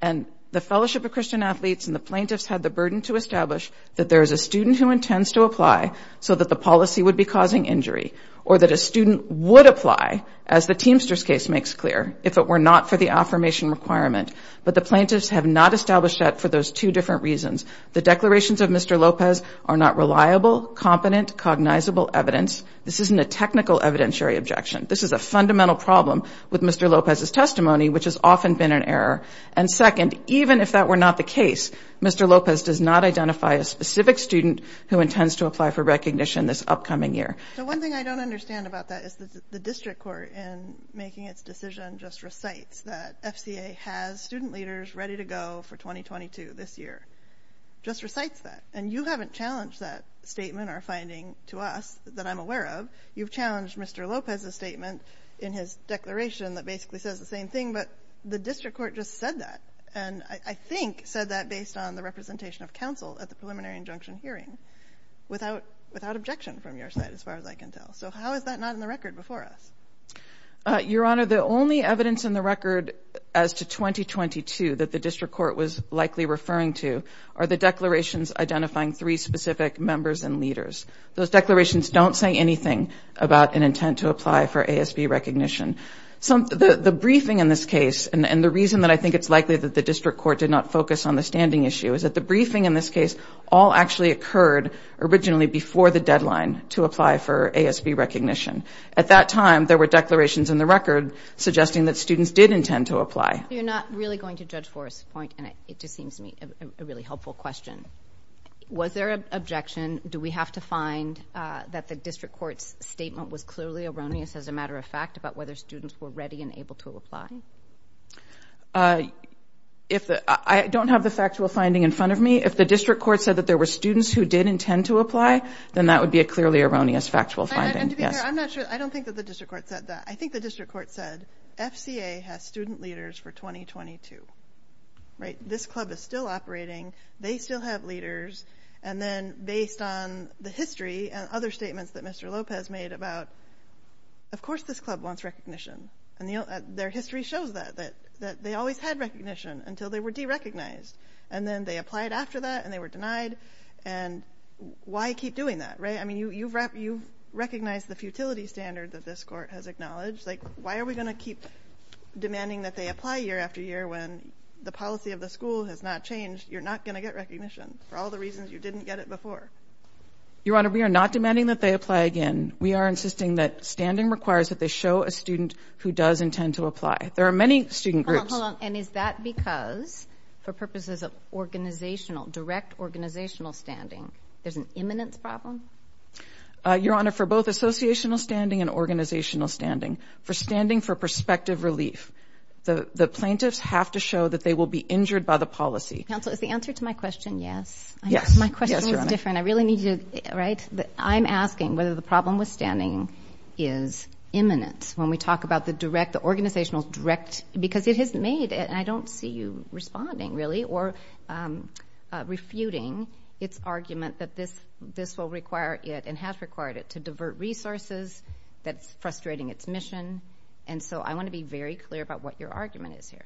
And the Fellowship of Christian Athletes and the plaintiffs had the burden to establish that there is a student who intends to apply so that the policy would be causing injury or that a student would apply, as the Teamsters case makes clear, if it were not for the affirmation requirement. But the plaintiffs have not established that for those two different reasons. The declarations of Mr. Lopez are not reliable, competent, cognizable evidence. This isn't a technical evidentiary objection. This is a fundamental problem with Mr. Lopez's testimony, which has often been an error. And second, even if that were not the case, Mr. Lopez does not identify a specific student who intends to apply for recognition this upcoming year. So one thing I don't understand about that is that the District Court, in making its decision, just recites that FCA has student leaders ready to go for 2022 this year. Just recites that. And you haven't challenged that statement or finding to us that I'm aware of. You've challenged Mr. Lopez's statement in his declaration that basically says the same thing. But the District Court just said that, and I think said that based on the representation of counsel at the preliminary injunction hearing, without objection from your side, as far as I can tell. So how is that not in the record before us? Your Honor, the only evidence in the record as to 2022 that the District Court was likely referring to are the declarations identifying three specific members and leaders. Those declarations don't say anything about an intent to apply for ASB recognition. The briefing in this case, and the reason that I think it's likely that the District Court did not focus on the standing issue, is that the briefing in this case all actually occurred originally before the deadline to apply for ASB recognition. At that time, there were declarations in the record suggesting that students did intend to apply. You're not really going to judge for us, and it just seems to me a really helpful question. Was there an objection? Do we have to find that the District Court's statement was clearly erroneous, as a matter of fact, about whether students were ready and able to apply? I don't have the factual finding in front of me. If the District Court said that there were students who did intend to apply, then that would be a clearly erroneous factual finding. To be fair, I don't think that the District Court said that. I think the District Court said, FCA has student leaders for 2022. This club is still operating. They still have leaders. And then based on the history and other statements that Mr. Lopez made about, of course this club wants recognition. And their history shows that, that they always had recognition until they were derecognized. And then they applied after that, and they were denied. And why keep doing that, right? I mean, you recognize the futility standard that this court has acknowledged. Why are we going to keep demanding that they apply year after year when the policy of the school has not changed? You're not going to get recognition for all the reasons you didn't get it before. Your Honor, we are not demanding that they apply again. We are insisting that standing requires that they show a student who does intend to apply. There are many student groups... Hold on, hold on. And is that because, for purposes of organizational, direct organizational standing, there's an imminence problem? Your Honor, for both associational standing and organizational standing, for standing for prospective relief, the plaintiffs have to show that they will be injured by the policy. Counsel, is the answer to my question yes? Yes. My question is different. I really need to, right? I'm asking whether the problem with standing is imminent when we talk about the direct, the organizational direct... Because it has made, and I don't see you responding, really, or refuting its argument that this will require it and has required it to divert resources. That's frustrating its mission. And so I want to be very clear about what your argument is here.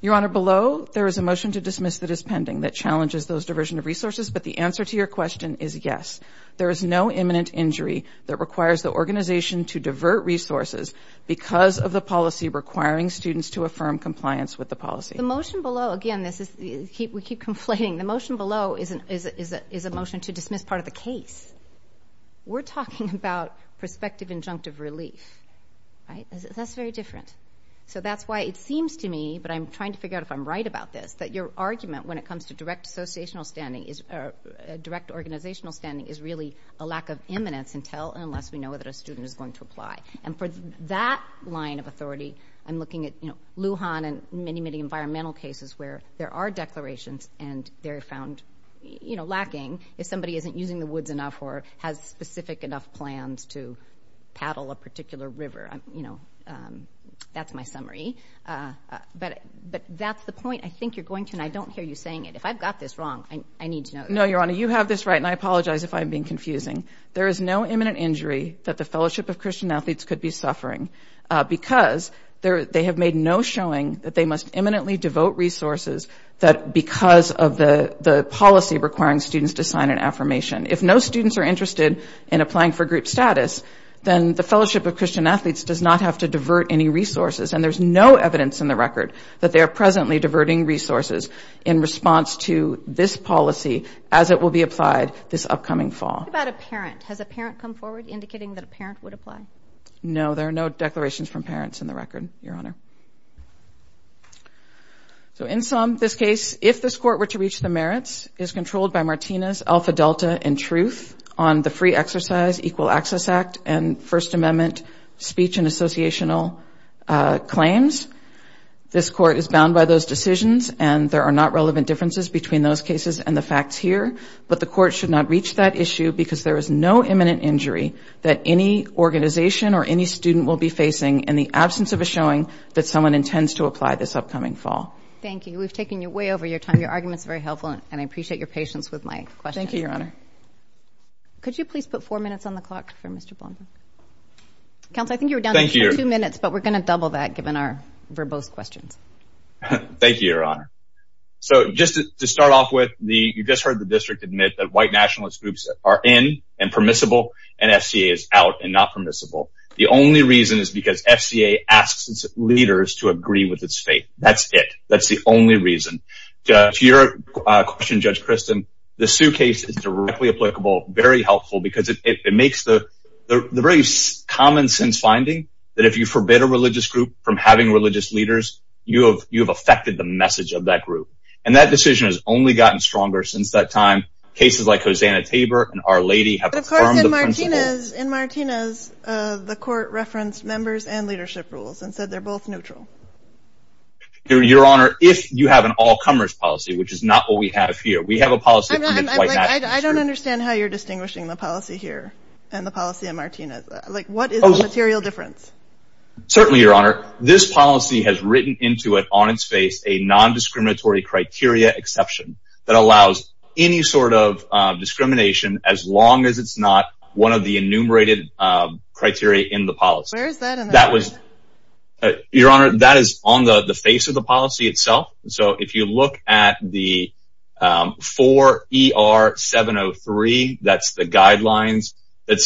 Your Honor, below, there is a motion to dismiss that is pending that challenges those diversion of resources, but the answer to your question is yes. There is no imminent injury that requires the organization to divert resources because of the policy requiring students to affirm compliance with the policy. The motion below, again, this is... We keep conflating. The motion below is a motion to dismiss part of the case. We're talking about prospective injunctive relief. That's very different. So that's why it seems to me, but I'm trying to figure out if I'm right about this, that your argument when it comes to direct organizational standing is really a lack of imminence unless we know whether a student is going to apply. And for that line of authority, I'm looking at Lujan and many, many environmental cases where there are declarations and they're found lacking. If somebody isn't using the woods enough or has specific enough plans to paddle a particular river, you know, that's my summary. But that's the point I think you're going to, and I don't hear you saying it. If I've got this wrong, I need to know. No, Your Honor, you have this right, and I apologize if I'm being confusing. There is no imminent injury that the Fellowship of Christian Athletes could be suffering because they have made no showing that they must imminently devote resources because of the policy requiring students to sign an affirmation. If no students are interested in applying for group status, then the Fellowship of Christian Athletes does not have to divert any resources, and there's no evidence in the record that they are presently diverting resources in response to this policy as it will be applied this upcoming fall. What about a parent? Has a parent come forward indicating that a parent would apply? No, there are no declarations from parents in the record, Your Honor. So in sum, this case, if this Court were to reach the merits, is controlled by Martinez, Alpha Delta, and Truth on the Free Exercise Equal Access Act and First Amendment speech and associational claims. This Court is bound by those decisions, and there are not relevant differences between those cases and the facts here, but the Court should not reach that issue because there is no imminent injury that any organization or any student will be facing in the absence of a showing that someone intends to apply this upcoming fall. Thank you. We've taken you way over your time. Your argument's very helpful, and I appreciate your patience with my questions. Thank you, Your Honor. Could you please put four minutes on the clock for Mr. Blomberg? Counsel, I think you were down to two minutes, but we're going to double that given our verbose questions. Thank you, Your Honor. So just to start off with, you just heard the district admit that white nationalist groups are in and permissible, and SCA is out and not permissible. The only reason is because SCA asks its leaders to agree with its faith. That's it. That's the only reason. To your question, Judge Christin, the Sue case is directly applicable, very helpful, because it makes the very common-sense finding that if you forbid a religious group from having religious leaders, you have affected the message of that group, and that decision has only gotten stronger since that time. Cases like Hosanna Tabor and Our Lady have confirmed the principle. In Martinez, the court referenced members and leadership rules and said they're both neutral. Your Honor, if you have an all-comers policy, which is not what we have here. We have a policy against white nationalism. I don't understand how you're distinguishing the policy here and the policy in Martinez. What is the material difference? Certainly, Your Honor. This policy has written into it on its face a non-discriminatory criteria exception that allows any sort of discrimination as long as it's not one of the enumerated criteria in the policy. Where is that in the policy? Your Honor, that is on the face of the policy itself. So, if you look at the 4ER703, that's the guidelines that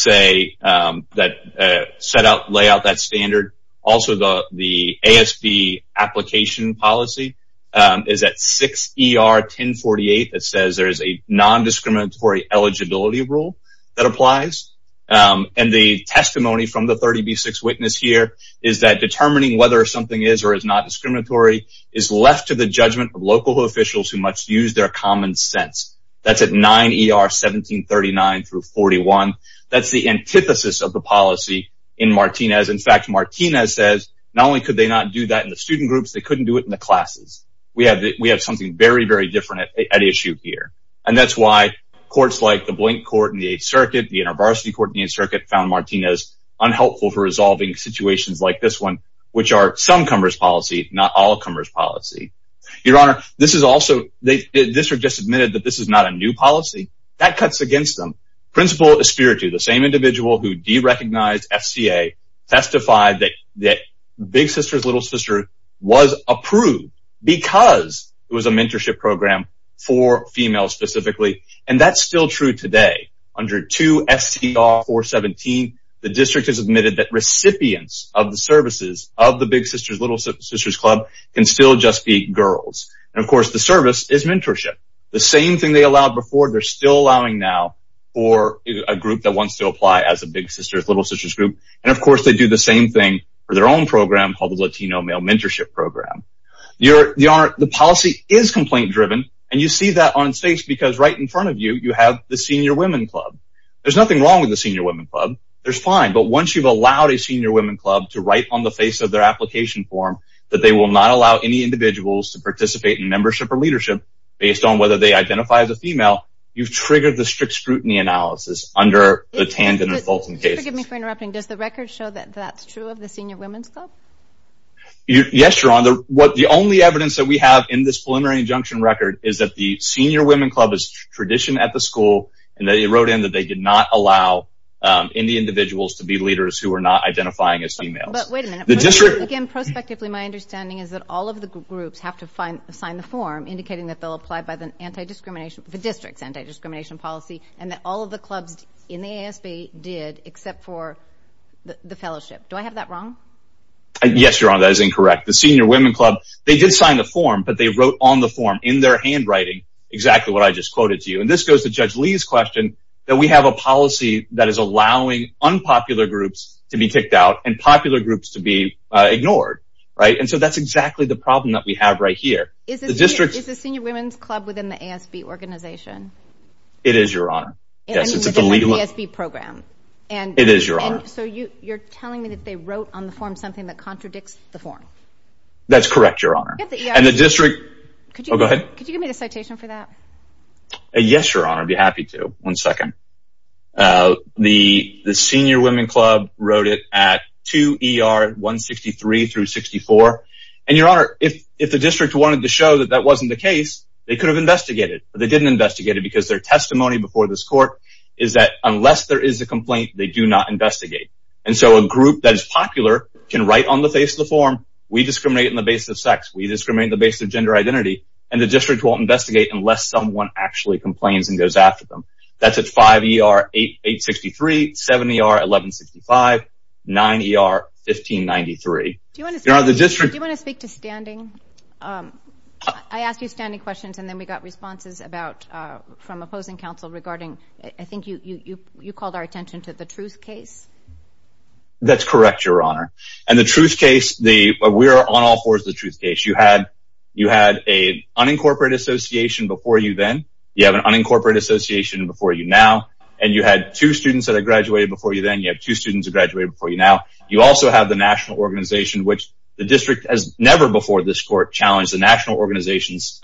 set out, lay out that standard. Also, the ASB application policy is at 6ER1048 that says there is a non-discriminatory eligibility rule that applies. And the testimony from the 30B6 witness here is that determining whether something is or is not discriminatory is left to the judgment of local officials who must use their common sense. That's at 9ER1739-41. That's the antithesis of the policy in Martinez. In fact, Martinez says not only could they not do that in the student groups, they couldn't do it in the classes. We have something very, very different at issue here. And that's why courts like the Blank Court in the 8th Circuit, the Inter-Varsity Court in the 8th Circuit, found Martinez unhelpful for resolving situations like this one, which are some cumbersome policy, not all cumbersome policy. Your Honor, this is also, the district just admitted that this is not a new policy. That cuts against them. Principal Espiritu, the same individual who derecognized FCA, testified that Big Sisters, Little Sisters was approved because it was a mentorship program for females specifically. And that's still true today. Under 2 SCR417, the district has admitted that recipients of the services of the Big Sisters, Little Sisters Club can still just be girls. And, of course, the service is mentorship. The same thing they allowed before, they're still allowing now for a group that wants to apply as a Big Sisters, Little Sisters group. And, of course, they do the same thing for their own program called the Latino Male Mentorship Program. Your Honor, the policy is complaint-driven, and you see that on stakes because right in front of you, you have the Senior Women Club. There's nothing wrong with the Senior Women Club. There's fine, but once you've allowed a Senior Women Club to write on the face of their application form that they will not allow any individuals to participate in membership or leadership based on whether they identify as a female, you've triggered the strict scrutiny analysis under the Tandon and Fulton cases. Excuse me for interrupting. Does the record show that that's true of the Senior Women's Club? Yes, Your Honor. The only evidence that we have in this preliminary injunction record is that the Senior Women Club is tradition at the school, and they wrote in that they did not allow any individuals to be leaders who are not identifying as females. But wait a minute. Again, prospectively, my understanding is that all of the groups have to sign the form indicating that they'll apply by the district's anti-discrimination policy and that all of the clubs in the ASB did except for the fellowship. Do I have that wrong? Yes, Your Honor. That is incorrect. The Senior Women Club, they did sign the form, but they wrote on the form in their handwriting exactly what I just quoted to you. And this goes to Judge Lee's question that we have a policy that is allowing unpopular groups to be kicked out and popular groups to be ignored, right? And so that's exactly the problem that we have right here. Is the Senior Women's Club within the ASB organization? It is, Your Honor. It's within the ASB program. It is, Your Honor. So you're telling me that they wrote on the form something that contradicts the form. That's correct, Your Honor. And the district... Could you give me the citation for that? Yes, Your Honor. I'd be happy to. One second. The Senior Women Club wrote it at 2 ER 163 through 64. And, Your Honor, if the district wanted to show that that wasn't the case, they could have investigated. But they didn't investigate it because their testimony before this court is that unless there is a complaint, they do not investigate. And so a group that is popular can write on the face of the form, we discriminate on the basis of sex, we discriminate on the basis of gender identity, and the district won't investigate unless someone actually complains and goes after them. That's at 5 ER 863, 7 ER 1165, 9 ER 1593. Do you want to speak to standing? I asked you standing questions, and then we got responses from opposing counsel regarding, I think you called our attention to the truth case. That's correct, Your Honor. And the truth case, we are on all fours of the truth case. You had an unincorporated association before you then, you have an unincorporated association before you now, and you had two students that had graduated before you then, you have two students that graduated before you now. You also have the national organization, which the district has never before this court challenged the national organization's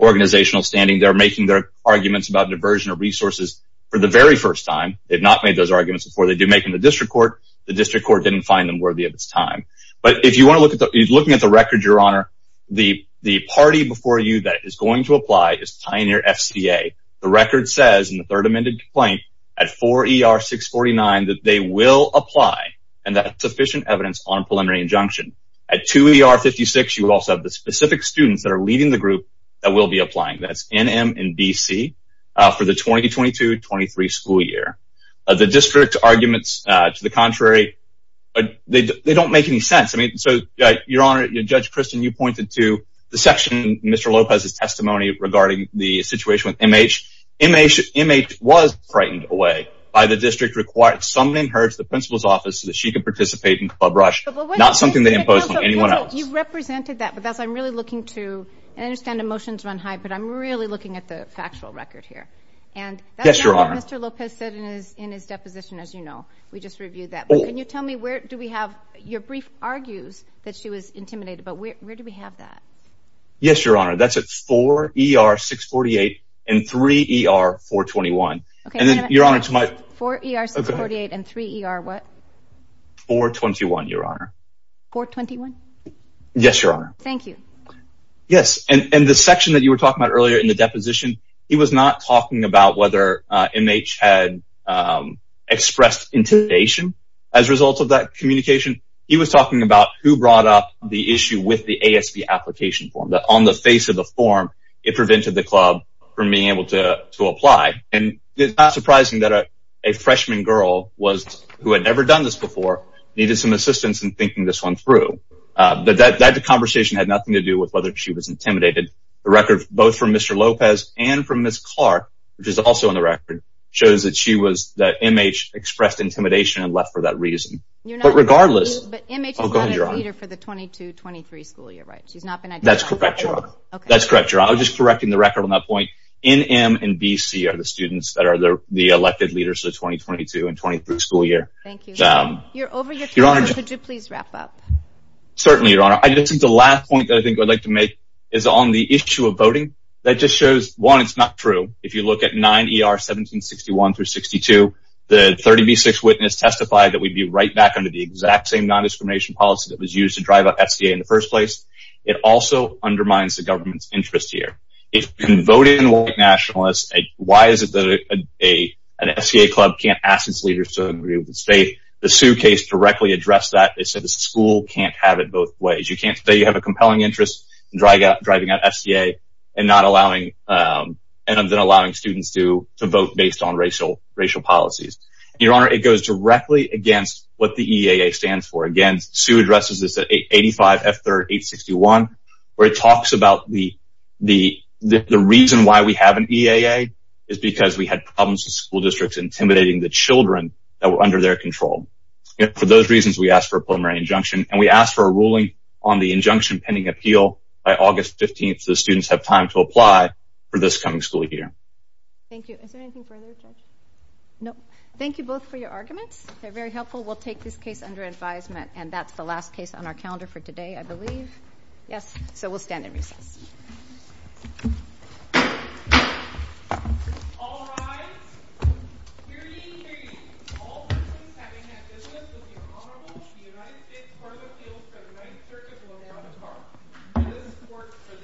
organizational standing. They're making their arguments about diversion of resources for the very first time. They've not made those arguments before. They do make them in the district court. The district court didn't find them worthy of its time. But if you want to look at the record, Your Honor, the party before you that is going to apply is Pioneer FCA. The record says in the third amended complaint at 4 ER 649 that they will apply and that sufficient evidence on preliminary injunction. At 2 ER 56, you also have the specific students that are leading the group that will be applying. That's NM and BC for the 2022-23 school year. The district's arguments to the contrary, they don't make any sense. So, Your Honor, Judge Kristen, you pointed to the section, Mr. Lopez's testimony regarding the situation with MH. MH was frightened away by the district, required someone in her to the principal's office so that she could participate in Club Rush, not something they imposed on anyone else. You represented that, but that's what I'm really looking to. I understand the motions run high, but I'm really looking at the factual record here. Yes, Your Honor. And that's not what Mr. Lopez said in his deposition, as you know. We just reviewed that. Can you tell me where do we have your brief argues that she was intimidated, but where do we have that? Yes, Your Honor. That's at 4ER648 and 3ER421. Okay. 4ER648 and 3ER what? 421, Your Honor. 421? Yes, Your Honor. Thank you. Yes, and the section that you were talking about earlier in the deposition, he was not talking about whether MH had expressed intimidation as a result of that communication. He was talking about who brought up the issue with the ASB application form, that on the face of the form, it prevented the club from being able to apply. And it's not surprising that a freshman girl who had never done this before needed some assistance in thinking this one through. But that conversation had nothing to do with whether she was intimidated. The record, both from Mr. Lopez and from Ms. Clark, which is also in the record, shows that MH expressed intimidation and left for that reason. But regardless, But MH is not a leader for the 22-23 school year, right? She's not been identified? That's correct, Your Honor. That's correct, Your Honor. I'm just correcting the record on that point. NM and BC are the students that are the elected leaders for the 22-23 school year. Thank you. You're over your time. Could you please wrap up? Certainly, Your Honor. I just think the last point that I think I'd like to make is on the issue of voting. That just shows, one, it's not true. If you look at 9ER1761-62, the 30B6 witness testified that we'd be right back under the exact same non-discrimination policy that was used to drive up FCA in the first place. It also undermines the government's interest here. If you can vote in white nationalists, why is it that an FCA club can't ask its leaders to agree with the state? The Sue case directly addressed that. It said the school can't have it both ways. You can't say you have a compelling interest in driving up FCA and then allowing students to vote based on racial policies. Your Honor, it goes directly against what the EAA stands for. Again, Sue addresses this at 85 F3 861, where it talks about the reason why we have an EAA is because we had problems with school districts intimidating the children that were under their control. For those reasons, we asked for a preliminary injunction, and we asked for a ruling on the injunction pending appeal. By August 15th, the students have time to apply for this coming school year. Thank you. Is there anything further, Judge? No. Thank you both for your arguments. They're very helpful. We'll take this case under advisement, and that's the last case on our calendar for today, I believe. Yes. So we'll stand in recess. All rise. Hear ye, hear ye. All persons having had business with the Honorable United States Court of Appeals for the Ninth Circuit will now depart. This court for this session now stands adjourned.